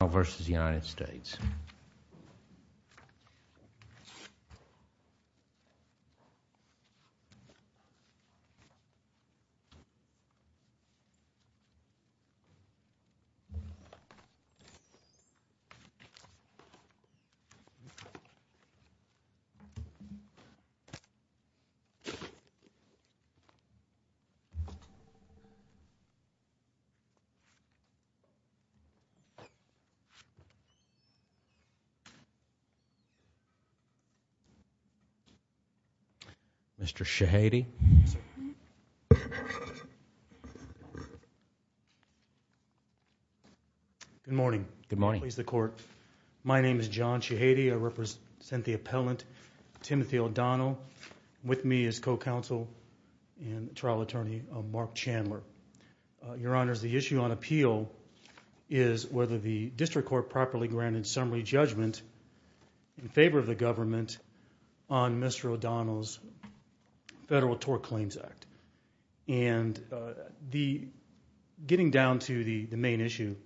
O'Donnell v. United States Mr. Shahady. Good morning. Good morning. I'm pleased to court. My name is John Shahady. I represent the appellant, Timothy O'Donnell. With me is co-counsel and trial attorney, Mark Chandler. Your honors, the issue on appeal is whether the district court properly granted summary judgment in favor of the government on Mr. O'Donnell's Federal Tort Claims Act. And getting down to the main issue,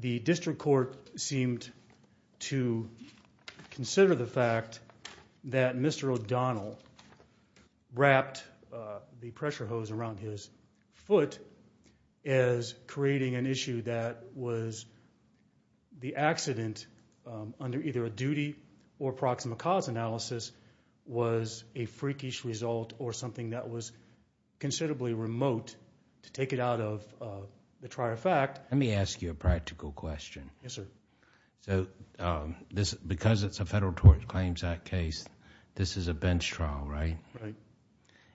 the district court seemed to consider the fact that Mr. O'Donnell wrapped the pressure hose around his foot as creating an issue that was the accident under either a duty or proximate cause analysis was a freakish result or something that was considerably remote to take it out of the trier fact. Let me ask you a practical question. Yes, sir. Because it's a Federal Tort Claims Act case, this is a bench trial, right? Right.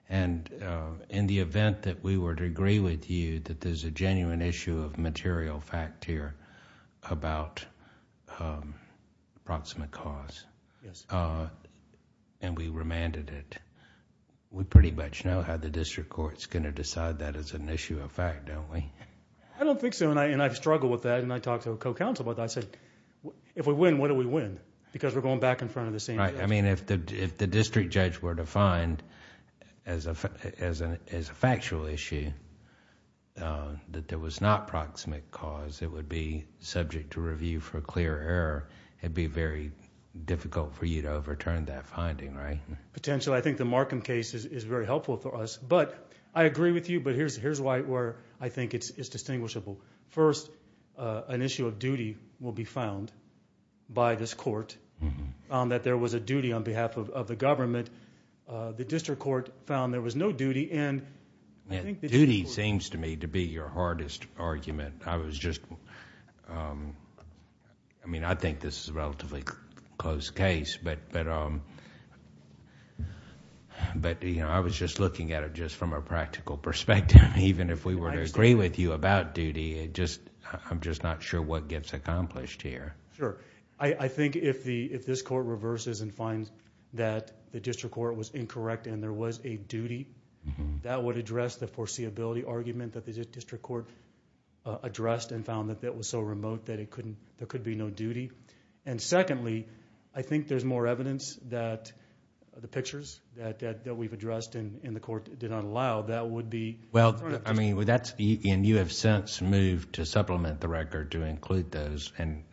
In the event that we were to agree with you that there's a genuine issue of material fact here about proximate cause and we remanded it, we pretty much know how the district court is going to decide that as an issue of fact, don't we? I don't think so. And I've struggled with that and I talked to a co-counsel about that. I said, if we win, what do we win? Because we're going back in front of the same judge. Right. I mean, if the district judge were to find as a factual issue that there was not proximate cause, it would be subject to review for clear error. It'd be very difficult for you to overturn that finding, right? Potentially. I think the Markham case is very helpful for us. I agree with you, but here's where I think it's distinguishable. First, an issue of duty will be found by this court. That there was a duty on behalf of the government. The district court found there was no duty and I think... Duty seems to me to be your hardest argument. I was just... I mean, I think this is a relatively close case. I was just looking at it just from a practical perspective. Even if we were to agree with you about duty, I'm just not sure what gets accomplished here. Sure. I think if this court reverses and finds that the district court was incorrect and there was a duty, that would address the foreseeability argument that the district court addressed and found that that was so remote that there could be no duty. Secondly, I think there's more evidence that the pictures that we've addressed in the court did not allow. That would be... Well, I mean, you have since moved to supplement the record to include those and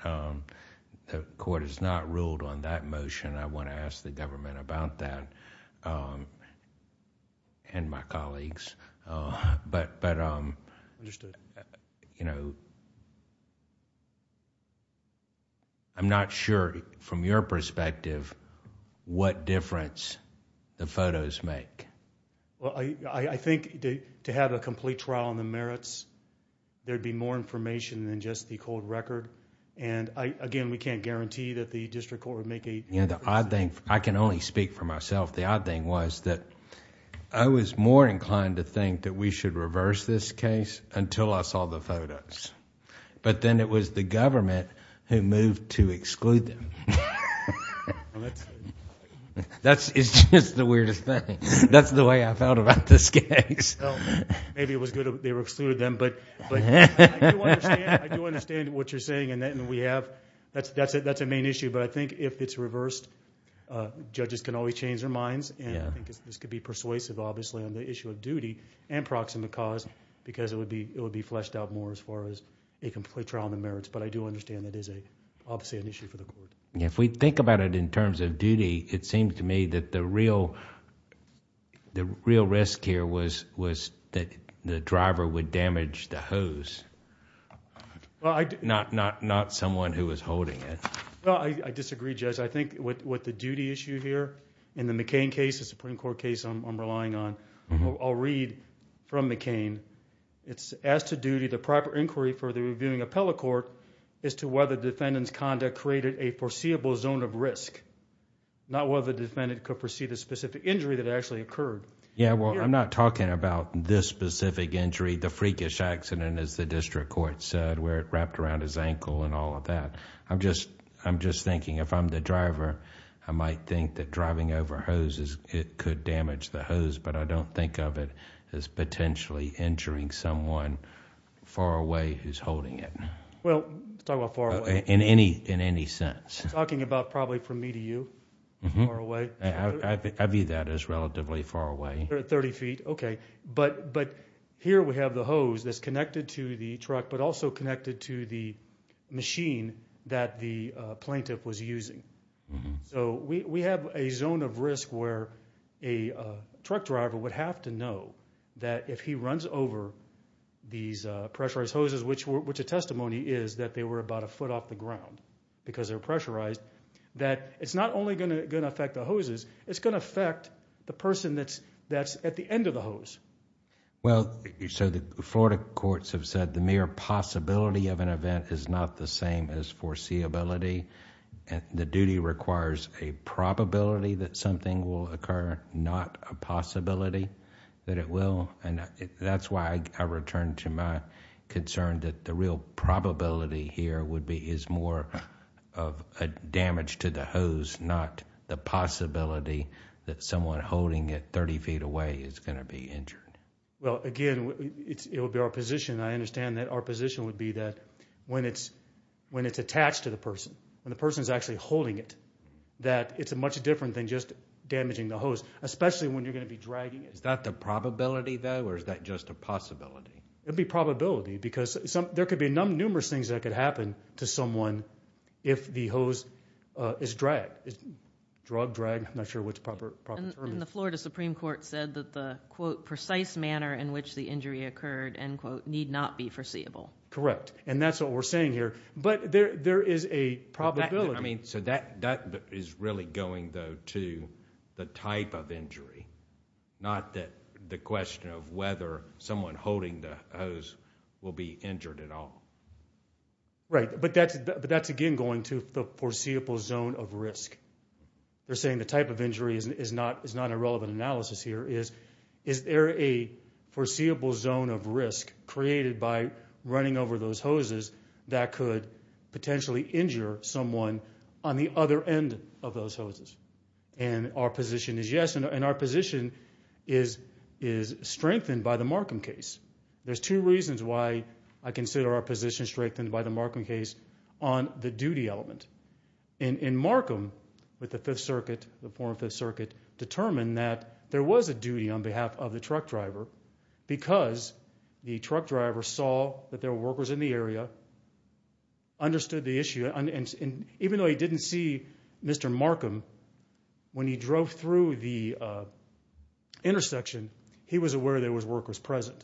the court has not ruled on that motion. I want to ask the government about that and my colleagues. Understood. I'm not sure from your perspective what difference the photos make. Well, I think to have a complete trial on the merits, there'd be more information than just the cold record. Again, we can't guarantee that the district court would make a... I can only speak for myself. The odd thing was that I was more inclined to think that we should reverse this case until I saw the photos. Then it was the government who moved to exclude them. That's... It's just the weirdest thing. That's the way I felt about this case. Maybe it was good they excluded them, but I do understand what you're saying and we have... that's a main issue, but I think if it's reversed, judges can always change their minds and I think this could be persuasive, obviously, on the issue of duty and proximate cause because it would be fleshed out more as far as a complete trial on the merits, but I do understand it is obviously an issue for the court. If we think about it in terms of duty, it seems to me that the real risk here was that the driver would damage the hose, not someone who was holding it. I disagree, Judge. I think with the duty issue here, in the McCain case, the Supreme Court case I'm relying on, I'll read from McCain. It's, as to duty, the proper inquiry for the reviewing appellate court is to whether defendant's conduct created a foreseeable zone of risk, not whether the defendant could foresee the specific injury that actually occurred. Yeah, well, I'm not talking about this specific injury, the freakish accident, as the district court said, where it wrapped around his ankle and all of that. I'm just thinking if I'm the driver, I might think that driving over hoses, it could damage the hose, but I don't think of it as potentially injuring someone far away who's holding it. Well, let's talk about far away. In any sense. Talking about probably from me to you, far away. I view that as relatively far away. Thirty feet, okay, but here we have the hose that's connected to the truck, but also connected to the machine that the plaintiff was using. So we have a zone of risk where a truck driver would have to know that if he runs over these pressurized hoses, which a testimony is that they were about a foot off the ground because they're pressurized, that it's not only going to affect the hoses, it's going to affect the person that's at the end of the hose. Well, so the Florida courts have said the mere possibility of an event is not the same as foreseeability. The duty requires a probability that something will occur, not a possibility that it will, and that's why I return to my concern that the real probability here would be is more of a damage to the hose, not the possibility that someone holding it 30 feet away is going to be injured. Well, again, it would be our position, and I understand that our position would be that when it's attached to the person, when the person's actually holding it, that it's much different than just damaging the hose, especially when you're going to be dragging it. Is that the probability, though, or is that just a possibility? It would be probability because there could be numerous things that could happen to someone if the hose is dragged, drug-dragged. I'm not sure what the proper term is. And the Florida Supreme Court said that the, quote, need not be foreseeable. Correct, and that's what we're saying here. But there is a probability. I mean, so that is really going, though, to the type of injury, not the question of whether someone holding the hose will be injured at all. Right, but that's, again, going to the foreseeable zone of risk. They're saying the type of injury is not a relevant analysis here. Is there a foreseeable zone of risk created by running over those hoses that could potentially injure someone on the other end of those hoses? And our position is yes, and our position is strengthened by the Markham case. There's two reasons why I consider our position strengthened by the Markham case on the duty element. In Markham, with the Fifth Circuit, the former Fifth Circuit, determined that there was a duty on behalf of the truck driver because the truck driver saw that there were workers in the area, understood the issue. And even though he didn't see Mr. Markham, when he drove through the intersection, he was aware there were workers present.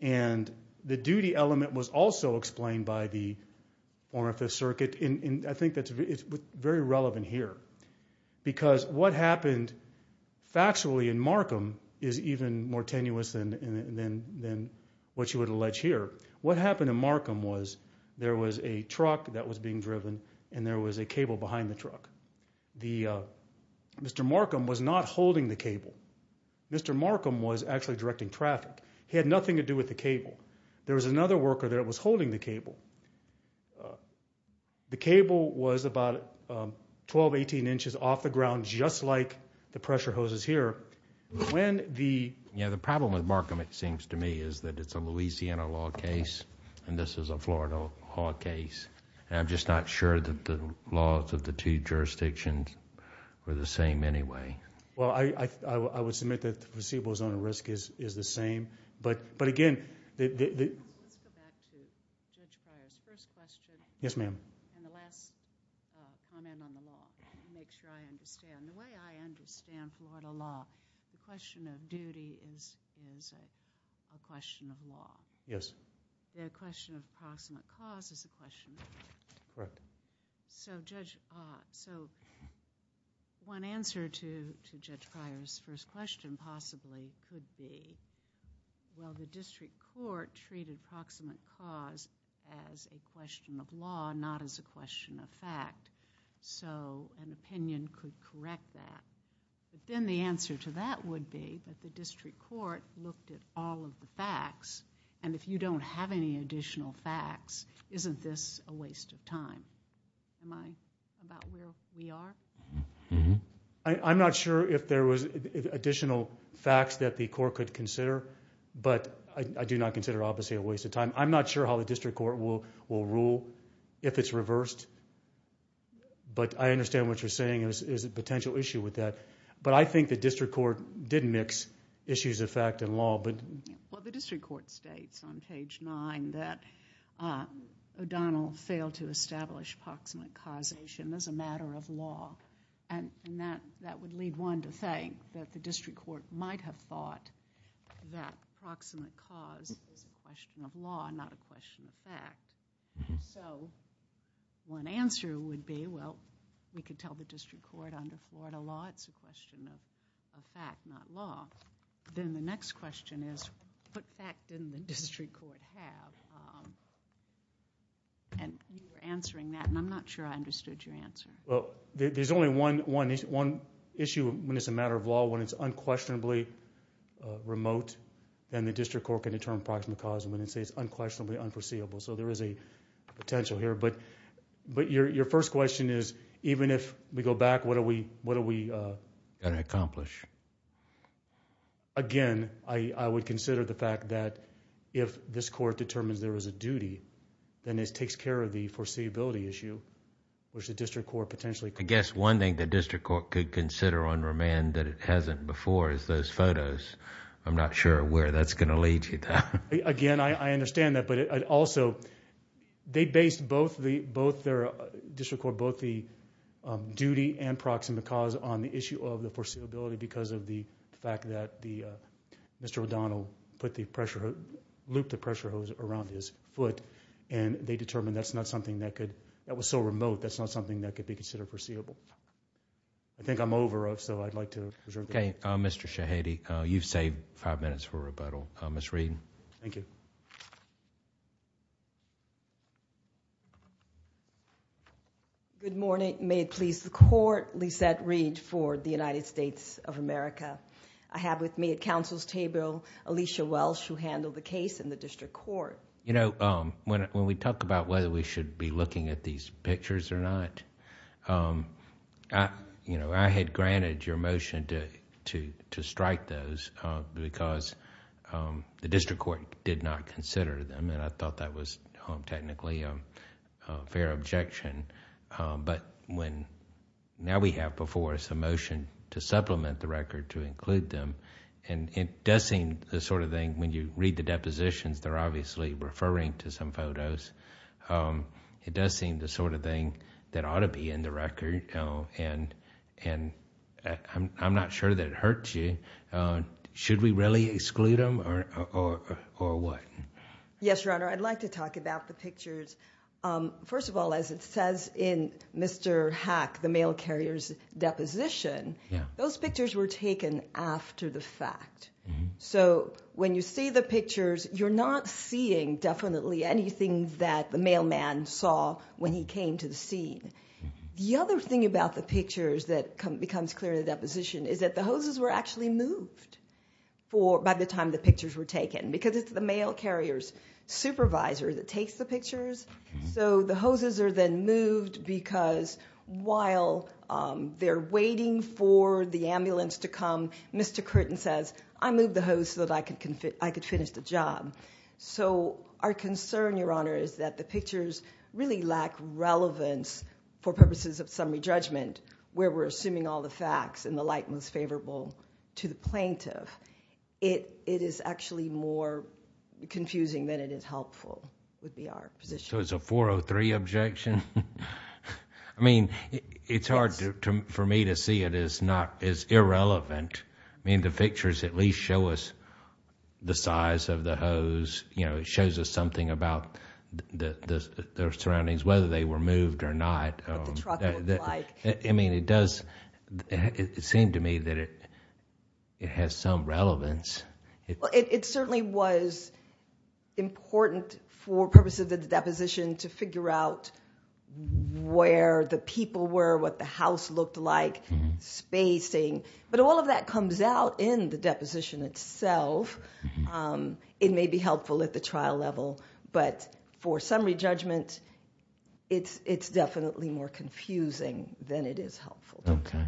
And the duty element was also explained by the former Fifth Circuit. I think it's very relevant here because what happened factually in Markham is even more tenuous than what you would allege here. What happened in Markham was there was a truck that was being driven and there was a cable behind the truck. Mr. Markham was not holding the cable. Mr. Markham was actually directing traffic. He had nothing to do with the cable. There was another worker there that was holding the cable. The cable was about 12, 18 inches off the ground, just like the pressure hoses here. When the... Yeah, the problem with Markham, it seems to me, is that it's a Louisiana law case and this is a Florida law case. I'm just not sure that the laws of the two jurisdictions were the same anyway. Well, I would submit that the placebo zone of risk is the same. But again, the... Let's go back to Judge Pryor's first question. Yes, ma'am. And the last comment on the law to make sure I understand. The way I understand Florida law, the question of duty is a question of law. Yes. The question of approximate cause is a question of law. Correct. So one answer to Judge Pryor's first question possibly could be, well, the district court treated approximate cause as a question of law, not as a question of fact. So an opinion could correct that. But then the answer to that would be that the district court looked at all of the facts, and if you don't have any additional facts, isn't this a waste of time? Do you mind about where we are? I'm not sure if there was additional facts that the court could consider, but I do not consider, obviously, a waste of time. I'm not sure how the district court will rule if it's reversed. But I understand what you're saying is a potential issue with that. But I think the district court did mix issues of fact and law. Well, the district court states on page 9 that O'Donnell failed to establish approximate causation as a matter of law, and that would lead one to think that the district court might have thought that approximate cause is a question of law, not a question of fact. So one answer would be, well, we could tell the district court under Florida law it's a question of fact, not law. Then the next question is, what fact didn't the district court have? You were answering that, and I'm not sure I understood your answer. Well, there's only one issue when it's a matter of law, when it's unquestionably remote, and the district court can determine approximate cause when it says unquestionably unforeseeable. So there is a potential here. But your first question is, even if we go back, what do we... Again, I would consider the fact that if this court determines there is a duty, then it takes care of the foreseeability issue, which the district court potentially... I guess one thing the district court could consider on remand that it hasn't before is those photos. I'm not sure where that's going to lead you to. Again, I understand that. But also, they based both their district court, both the duty and proximate cause on the issue of the foreseeability because of the fact that Mr. O'Donnell put the pressure... looped the pressure hose around his foot, and they determined that's not something that could... that was so remote, that's not something that could be considered foreseeable. I think I'm over, so I'd like to... Okay, Mr. Shahidi, you've saved five minutes for rebuttal. Ms. Reed. Thank you. Good morning. May it please the court, Lisette Reed for the United States of America. I have with me at counsel's table Alicia Welsh, who handled the case in the district court. When we talk about whether we should be looking at these pictures or not, I had granted your motion to strike those because the district court did not consider them, and I thought that was technically a fair objection. But when... now we have before us a motion to supplement the record, to include them, and it does seem the sort of thing... when you read the depositions, they're obviously referring to some photos. It does seem the sort of thing that ought to be in the record, and I'm not sure that it hurts you. Should we really exclude them or what? I'd like to talk about the pictures. First of all, as it says in Mr. Hack, the mail carrier's deposition, those pictures were taken after the fact. So when you see the pictures, you're not seeing definitely anything that the mailman saw when he came to the scene. The other thing about the pictures that becomes clear in the deposition is that the hoses were actually moved by the time the pictures were taken because it's the mail carrier's supervisor that takes the pictures. So the hoses are then moved because while they're waiting for the ambulance to come, Mr. Curtin says, I moved the hose so that I could finish the job. So our concern, Your Honor, is that the pictures really lack relevance for purposes of summary judgment, where we're assuming all the facts in the light most favorable to the plaintiff. It is actually more confusing than it is helpful would be our position. So it's a 403 objection? I mean, it's hard for me to see it as irrelevant. I mean, the pictures at least show us the size of the hose. It shows us something about their surroundings, whether they were moved or not. What the truck looked like. I mean, it does seem to me that it has some relevance. It certainly was important for purposes of the deposition to figure out where the people were, what the house looked like, spacing. But all of that comes out in the deposition itself. It may be helpful at the trial level, but for summary judgment, it's definitely more confusing than it is helpful. Okay.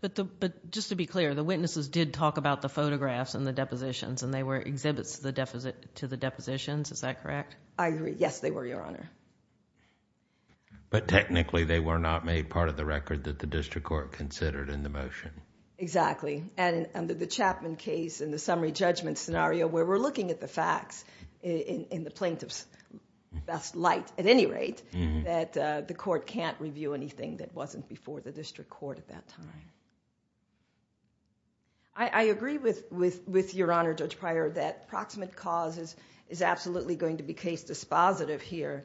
But just to be clear, the witnesses did talk about the photographs and the depositions, and they were exhibits to the depositions. Is that correct? I agree. Yes, they were, Your Honor. But technically, they were not made part of the record that the district court considered in the motion. Exactly. And under the Chapman case, in the summary judgment scenario, where we're looking at the facts in the plaintiff's best light at any rate, that the court can't review anything that wasn't before the district court at that time. I agree with Your Honor, Judge Pryor, that proximate cause is absolutely going to be case dispositive here.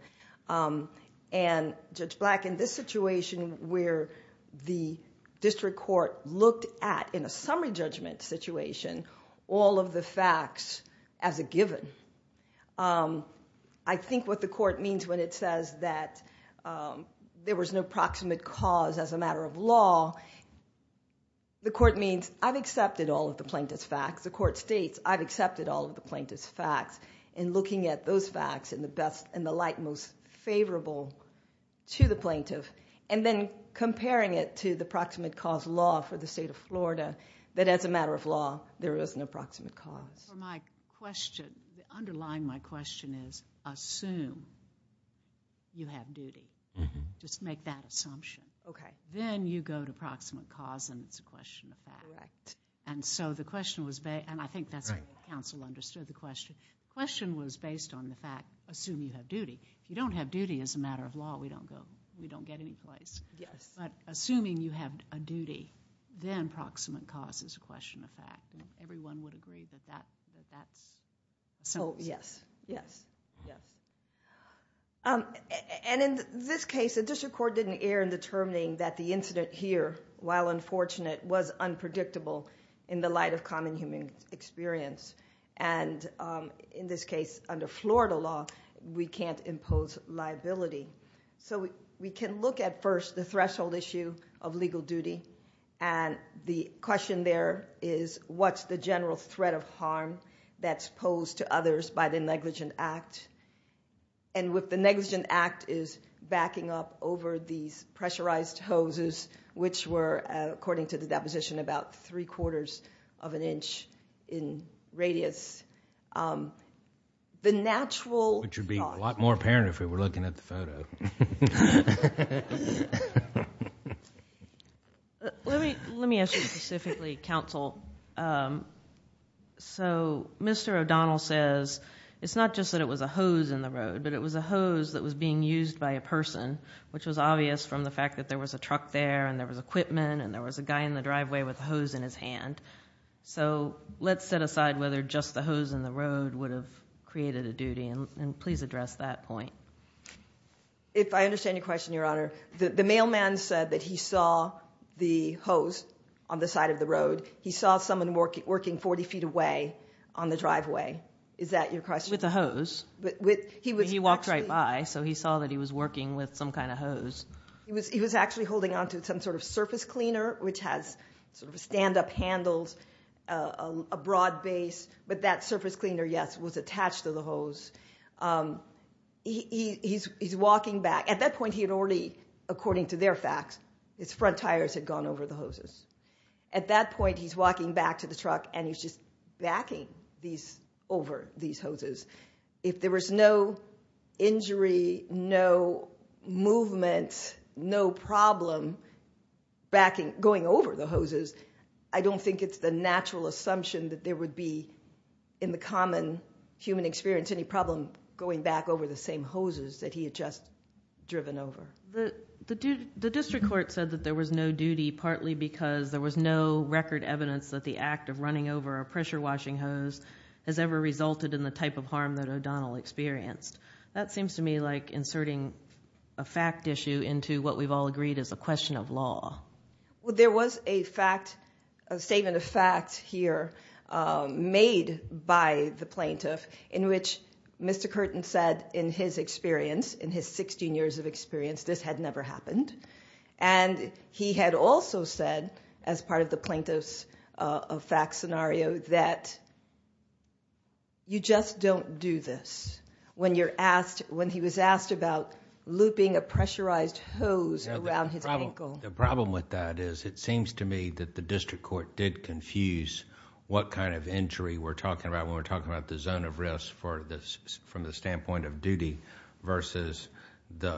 And Judge Black, in this situation where the district court looked at, in a summary judgment situation, all of the facts as a given, I think what the court means when it says that there was no proximate cause as a matter of law, the court means I've accepted all of the plaintiff's facts. The court states I've accepted all of the plaintiff's facts in looking at those facts in the light most favorable to the plaintiff, and then comparing it to the proximate cause law for the state of Florida, that as a matter of law, there is an approximate cause. My question, underlying my question is, assume you have duty. Just make that assumption. Then you go to proximate cause and it's a question of fact. Correct. And so the question was based, and I think that's how counsel understood the question. The question was based on the fact, assume you have duty. If you don't have duty as a matter of law, we don't get any place. Yes. But assuming you have a duty, then proximate cause is a question of fact. Everyone would agree that that's a sense. Oh, yes. Yes. Yes. And in this case, the district court didn't err in determining that the incident here, while unfortunate, was unpredictable in the light of common human experience. And in this case, under Florida law, we can't impose liability. So we can look at first the threshold issue of legal duty, and the question there is what's the general threat of harm that's posed to others by the negligent act? And with the negligent act is backing up over these pressurized hoses, which were, according to the deposition, about three quarters of an inch in radius. The natural thought. Which would be a lot more apparent if we were looking at the photo. Let me ask you specifically, counsel. So Mr. O'Donnell says it's not just that it was a hose in the road, but it was a hose that was being used by a person, which was obvious from the fact that there was a truck there and there was equipment and there was a guy in the driveway with a hose in his hand. So let's set aside whether just the hose in the road would have created a duty, and please address that point. If I understand your question, Your Honor, the mailman said that he saw the hose on the side of the road. He saw someone working 40 feet away on the driveway. Is that your question? With a hose. He walked right by, so he saw that he was working with some kind of hose. He was actually holding on to some sort of surface cleaner, which has sort of stand-up handles, a broad base. But that surface cleaner, yes, was attached to the hose. He's walking back. At that point, he had already, according to their facts, his front tires had gone over the hoses. At that point, he's walking back to the truck and he's just backing over these hoses. If there was no injury, no movement, no problem going over the hoses, I don't think it's the natural assumption that there would be, in the common human experience, any problem going back over the same hoses that he had just driven over. The district court said that there was no duty, partly because there was no record evidence that the act of running over a pressure-washing hose has ever resulted in the type of harm that O'Donnell experienced. That seems to me like inserting a fact issue into what we've all agreed is a question of law. There was a statement of fact here made by the plaintiff in which Mr. Curtin said, in his experience, in his sixteen years of experience, this had never happened. He had also said, as part of the plaintiff's fact scenario, that you just don't do this. When he was asked about looping a pressurized hose around his ankle... The problem with that is it seems to me that the district court did confuse what kind of injury we're talking about when we're talking about the zone of risk from the standpoint of duty versus the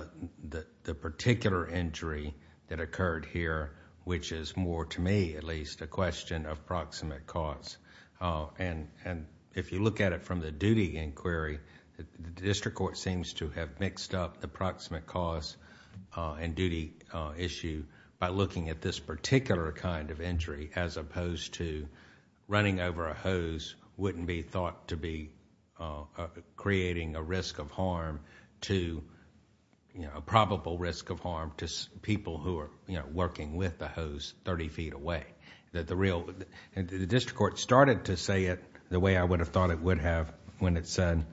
particular injury that occurred here, which is more to me, at least, a question of proximate cause. If you look at it from the duty inquiry, the district court seems to have mixed up the proximate cause and duty issue by looking at this particular kind of injury as opposed to running over a hose wouldn't be thought to be creating a risk of harm to... a probable risk of harm to people who are working with the hose thirty feet away. The district court started to say it the way I would have thought it would have when it said,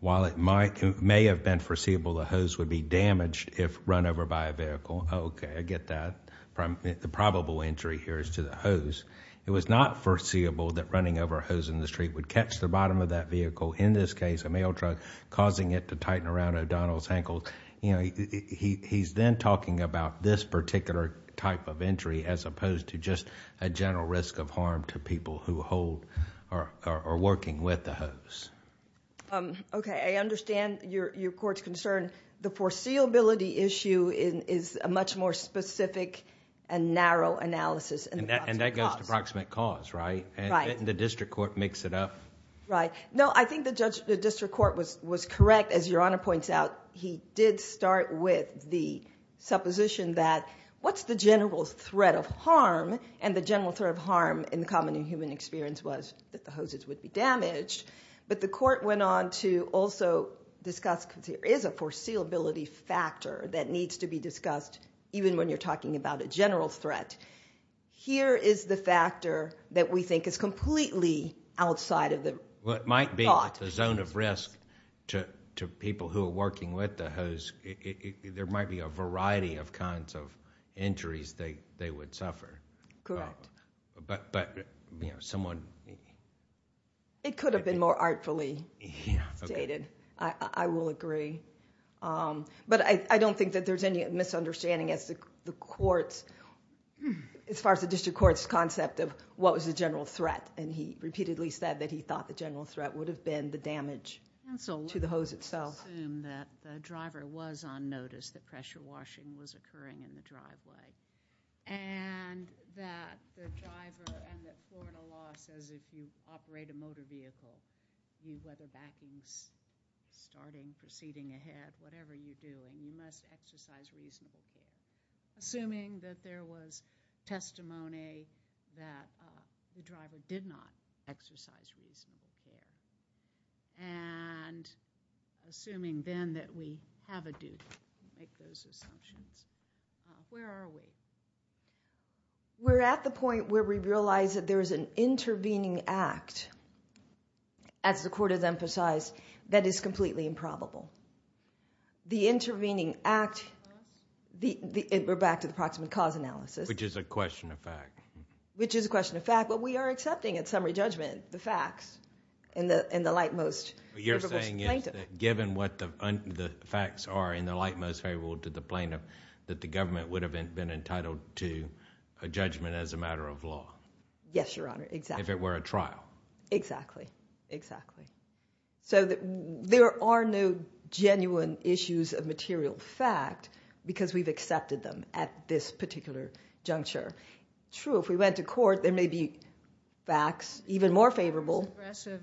while it may have been foreseeable the hose would be damaged if run over by a vehicle. Okay, I get that. The probable injury here is to the hose. It was not foreseeable that running over a hose in the street would catch the bottom of that vehicle, in this case a mail truck, causing it to tighten around O'Donnell's ankle. He's then talking about this particular type of injury as opposed to just a general risk of harm to people who are working with the hose. Okay, I understand your court's concern. The foreseeability issue is a much more specific and narrow analysis. And that goes to proximate cause, right? And didn't the district court mix it up? Right. No, I think the district court was correct. As Your Honor points out, he did start with the supposition that what's the general threat of harm? And the general threat of harm in the common human experience was that the hoses would be damaged. But the court went on to also discuss, because there is a foreseeability factor that needs to be discussed, even when you're talking about a general threat. Here is the factor that we think is completely outside of the thought. What might be the zone of risk to people who are working with the hose, there might be a variety of kinds of injuries they would suffer. Correct. But, you know, someone... It could have been more artfully stated. I will agree. But I don't think that there's any misunderstanding as far as the district court's concept of what was the general threat. And he repeatedly said that he thought the general threat would have been the damage to the hose itself. Counsel, let's assume that the driver was on notice that pressure washing was occurring in the driveway, and that the driver and that Florida law says if you operate a motor vehicle, you weather backing, starting, proceeding ahead, whatever you do, and you must exercise reasonable care. Assuming that there was testimony that the driver did not exercise reasonable care. And assuming then that we have a duty to make those assumptions. Where are we? We're at the point where we realize that there is an intervening act, as the court has emphasized, that is completely improbable. The intervening act... we're back to the approximate cause analysis. Which is a question of fact. Which is a question of fact. But we are accepting at summary judgment the facts in the light most favorable plaintiff. What you're saying is that given what the facts are in the light most favorable to the plaintiff, that the government would have been entitled to a judgment as a matter of law. Yes, Your Honor. Exactly. If it were a trial. Exactly. Exactly. So there are no genuine issues of material fact because we've accepted them at this particular juncture. True, if we went to court, there may be facts even more favorable. Has aggressive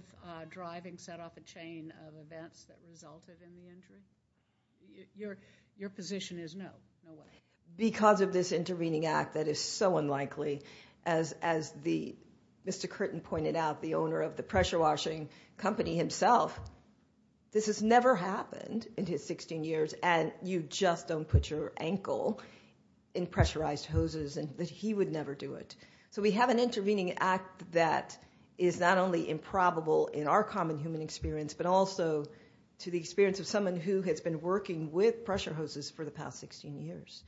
driving set off a chain of events that resulted in the injury? Your position is no, no way. Because of this intervening act that is so unlikely. As Mr. Curtin pointed out, the owner of the pressure washing company himself, this has never happened in his 16 years. And you just don't put your ankle in pressurized hoses. He would never do it. So we have an intervening act that is not only improbable in our common human experience, but also to the experience of someone who has been working with pressure hoses for the past 16 years.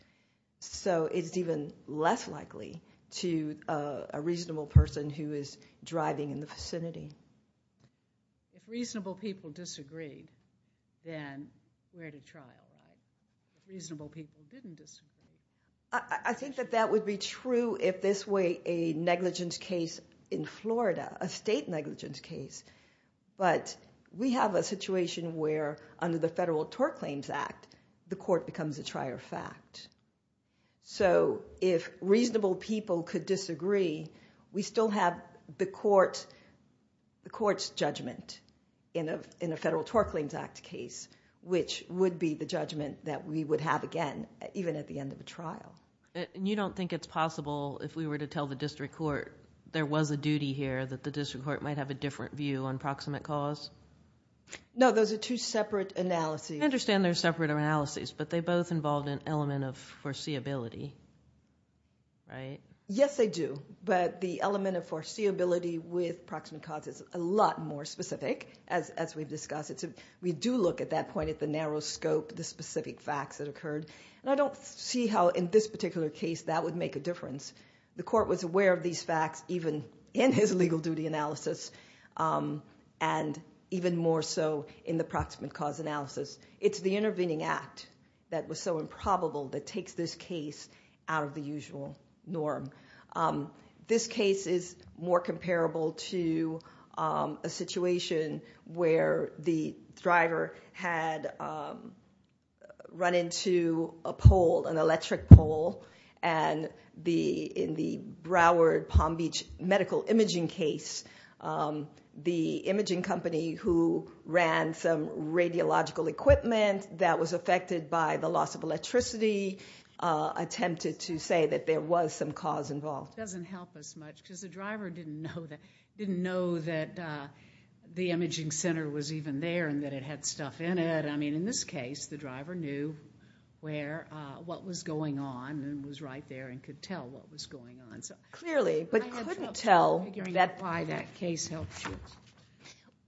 So it's even less likely to a reasonable person who is driving in the vicinity. If reasonable people disagreed, then we're at a trial. If reasonable people didn't disagree. I think that that would be true if this were a negligence case in Florida, a state negligence case. But we have a situation where under the Federal Tort Claims Act, the court becomes a trier of fact. So if reasonable people could disagree, we still have the court's judgment in a Federal Tort Claims Act case, which would be the judgment that we would have again even at the end of the trial. And you don't think it's possible if we were to tell the district court there was a duty here that the district court might have a different view on proximate cause? No, those are two separate analyses. I understand they're separate analyses, but they both involved an element of foreseeability, right? Yes, they do. But the element of foreseeability with proximate cause is a lot more specific, as we've discussed. We do look at that point at the narrow scope, the specific facts that occurred. And I don't see how in this particular case that would make a difference. The court was aware of these facts even in his legal duty analysis and even more so in the proximate cause analysis. It's the intervening act that was so improbable that takes this case out of the usual norm. This case is more comparable to a situation where the driver had run into a pole, an electric pole, and in the Broward-Palm Beach medical imaging case, the imaging company who ran some radiological equipment that was affected by the loss of electricity attempted to say that there was some cause involved. It doesn't help us much because the driver didn't know that the imaging center was even there and that it had stuff in it. I mean, in this case, the driver knew what was going on and was right there and could tell what was going on. Clearly, but couldn't tell. I had trouble figuring out why that case helped you.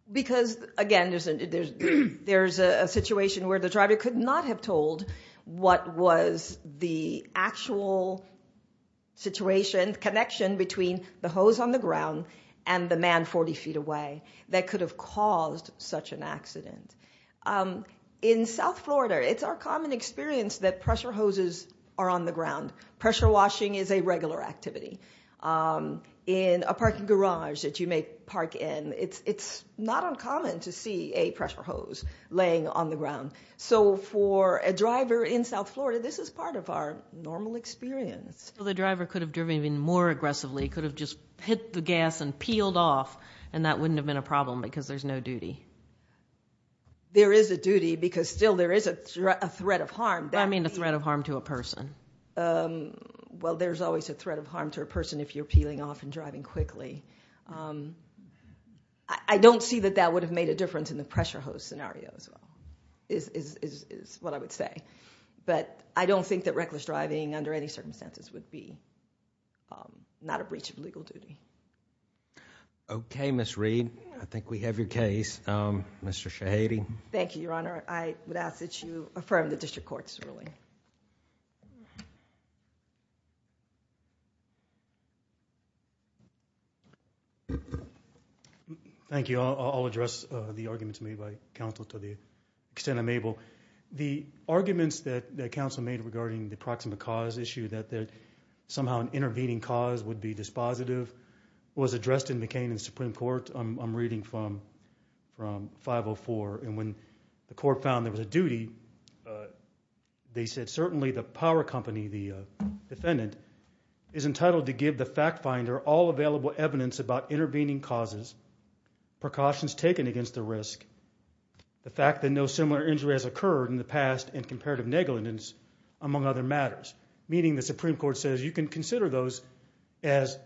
Because, again, there's a situation where the driver could not have told what was the actual situation, connection between the hose on the ground and the man 40 feet away that could have caused such an accident. In South Florida, it's our common experience that pressure hoses are on the ground. Pressure washing is a regular activity. In a parking garage that you may park in, it's not uncommon to see a pressure hose laying on the ground. So for a driver in South Florida, this is part of our normal experience. The driver could have driven even more aggressively, could have just hit the gas and peeled off, and that wouldn't have been a problem because there's no duty. There is a duty because still there is a threat of harm. I mean a threat of harm to a person. Well, there's always a threat of harm to a person if you're peeling off and driving quickly. I don't see that that would have made a difference in the pressure hose scenario as well, is what I would say. But I don't think that reckless driving under any circumstances would be not a breach of legal duty. Okay, Ms. Reed. I think we have your case. Mr. Shahady. Thank you, Your Honor. I would ask that you affirm the district court's ruling. Thank you. I'll address the arguments made by counsel to the extent I'm able. The arguments that counsel made regarding the proximate cause issue, that somehow an intervening cause would be dispositive, was addressed in McCain in the Supreme Court. I'm reading from 504. And when the court found there was a duty, they said, certainly the power company, the defendant, is entitled to give the fact finder all available evidence about intervening causes, precautions taken against the risk, the fact that no similar injury has occurred in the past in comparative negligence, among other matters. Meaning the Supreme Court says you can consider those as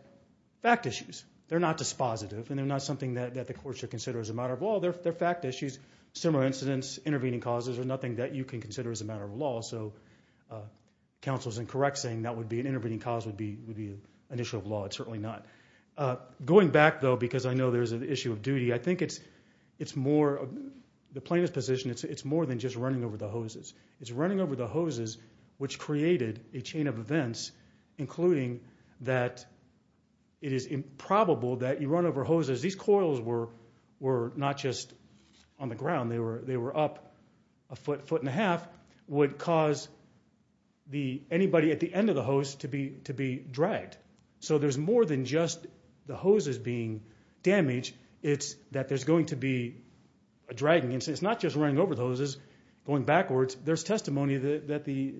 fact issues. They're not dispositive, and they're not something that the court should consider as a matter of law. They're fact issues. Similar incidents, intervening causes are nothing that you can consider as a matter of law. So counsel is incorrect saying that an intervening cause would be an issue of law. It's certainly not. Going back, though, because I know there's an issue of duty, I think the plaintiff's position, it's more than just running over the hoses. It's running over the hoses which created a chain of events, including that it is improbable that you run over hoses. These coils were not just on the ground. They were up a foot, foot and a half. It would cause anybody at the end of the hose to be dragged. So there's more than just the hoses being damaged. It's that there's going to be a dragging. It's not just running over the hoses, going backwards. There's testimony that the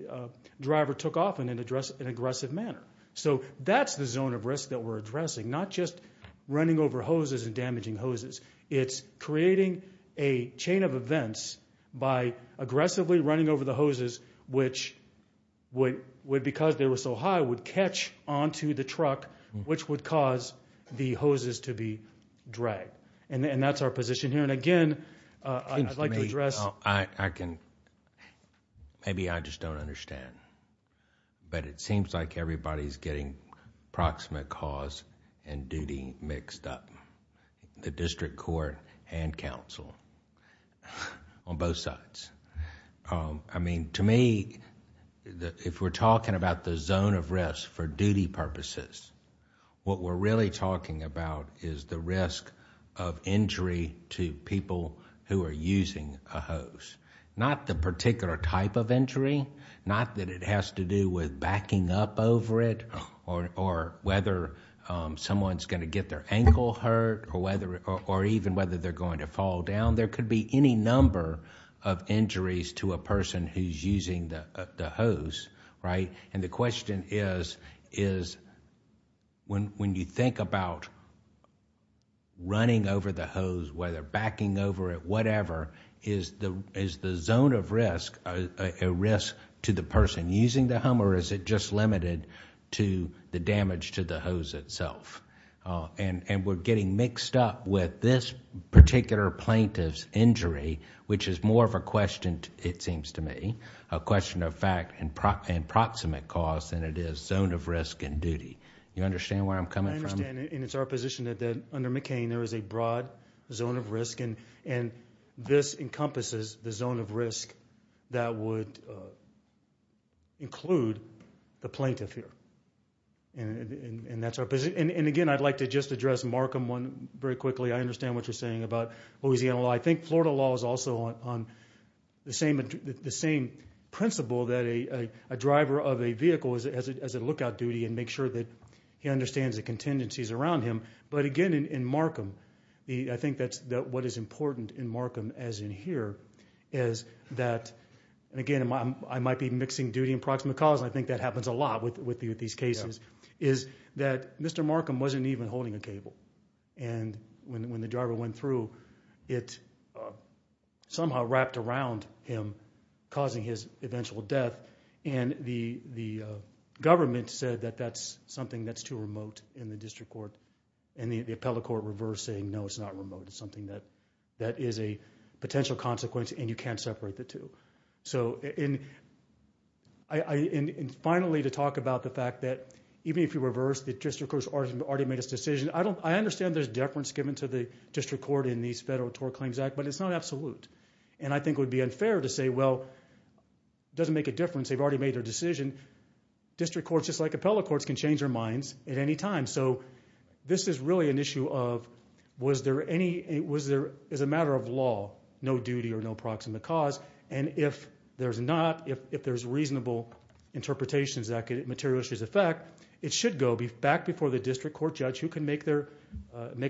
driver took off in an aggressive manner. So that's the zone of risk that we're addressing, not just running over hoses and damaging hoses. It's creating a chain of events by aggressively running over the hoses, which would, because they were so high, would catch onto the truck, which would cause the hoses to be dragged. And that's our position here. And, again, I'd like to address. Well, I can... maybe I just don't understand. But it seems like everybody's getting approximate cause and duty mixed up, the district court and counsel on both sides. I mean, to me, if we're talking about the zone of risk for duty purposes, what we're really talking about is the risk of injury to people who are using a hose. Not the particular type of injury, not that it has to do with backing up over it or whether someone's going to get their ankle hurt or even whether they're going to fall down. There could be any number of injuries to a person who's using the hose. And the question is, when you think about running over the hose, whether backing over it, whatever, is the zone of risk a risk to the person using the home or is it just limited to the damage to the hose itself? And we're getting mixed up with this particular plaintiff's injury, which is more of a question, it seems to me, a question of fact and approximate cause than it is zone of risk and duty. Do you understand where I'm coming from? I understand and it's our position that under McCain there is a broad zone of risk and this encompasses the zone of risk that would include the plaintiff here. And again, I'd like to just address Markham one very quickly. I understand what you're saying about Louisiana law. I think Florida law is also on the same principle that a driver of a vehicle has a lookout duty and make sure that he understands the contingencies around him. But again, in Markham, I think what is important in Markham, as in here, is that, and again, I might be mixing duty and approximate cause and I think that happens a lot with these cases, is that Mr. Markham wasn't even holding a cable. And when the driver went through, it somehow wrapped around him, causing his eventual death. And the government said that that's something that's too remote in the district court. And the appellate court reversed saying, no, it's not remote. It's something that is a potential consequence and you can't separate the two. And finally, to talk about the fact that even if you reverse, the district court has already made its decision. I understand there's deference given to the district court in these Federal Tort Claims Act, but it's not absolute. And I think it would be unfair to say, well, it doesn't make a difference. They've already made their decision. District courts, just like appellate courts, can change their minds at any time. So this is really an issue of was there any, as a matter of law, no duty or no approximate cause. And if there's not, if there's reasonable interpretations that could materially affect, it should go back before the district court judge who can make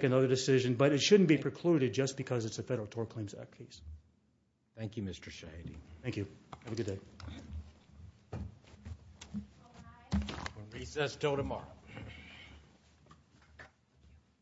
another decision. But it shouldn't be precluded just because it's a Federal Tort Claims Act case. Thank you, Mr. Shahidi. Thank you. Have a good day. We'll recess until tomorrow.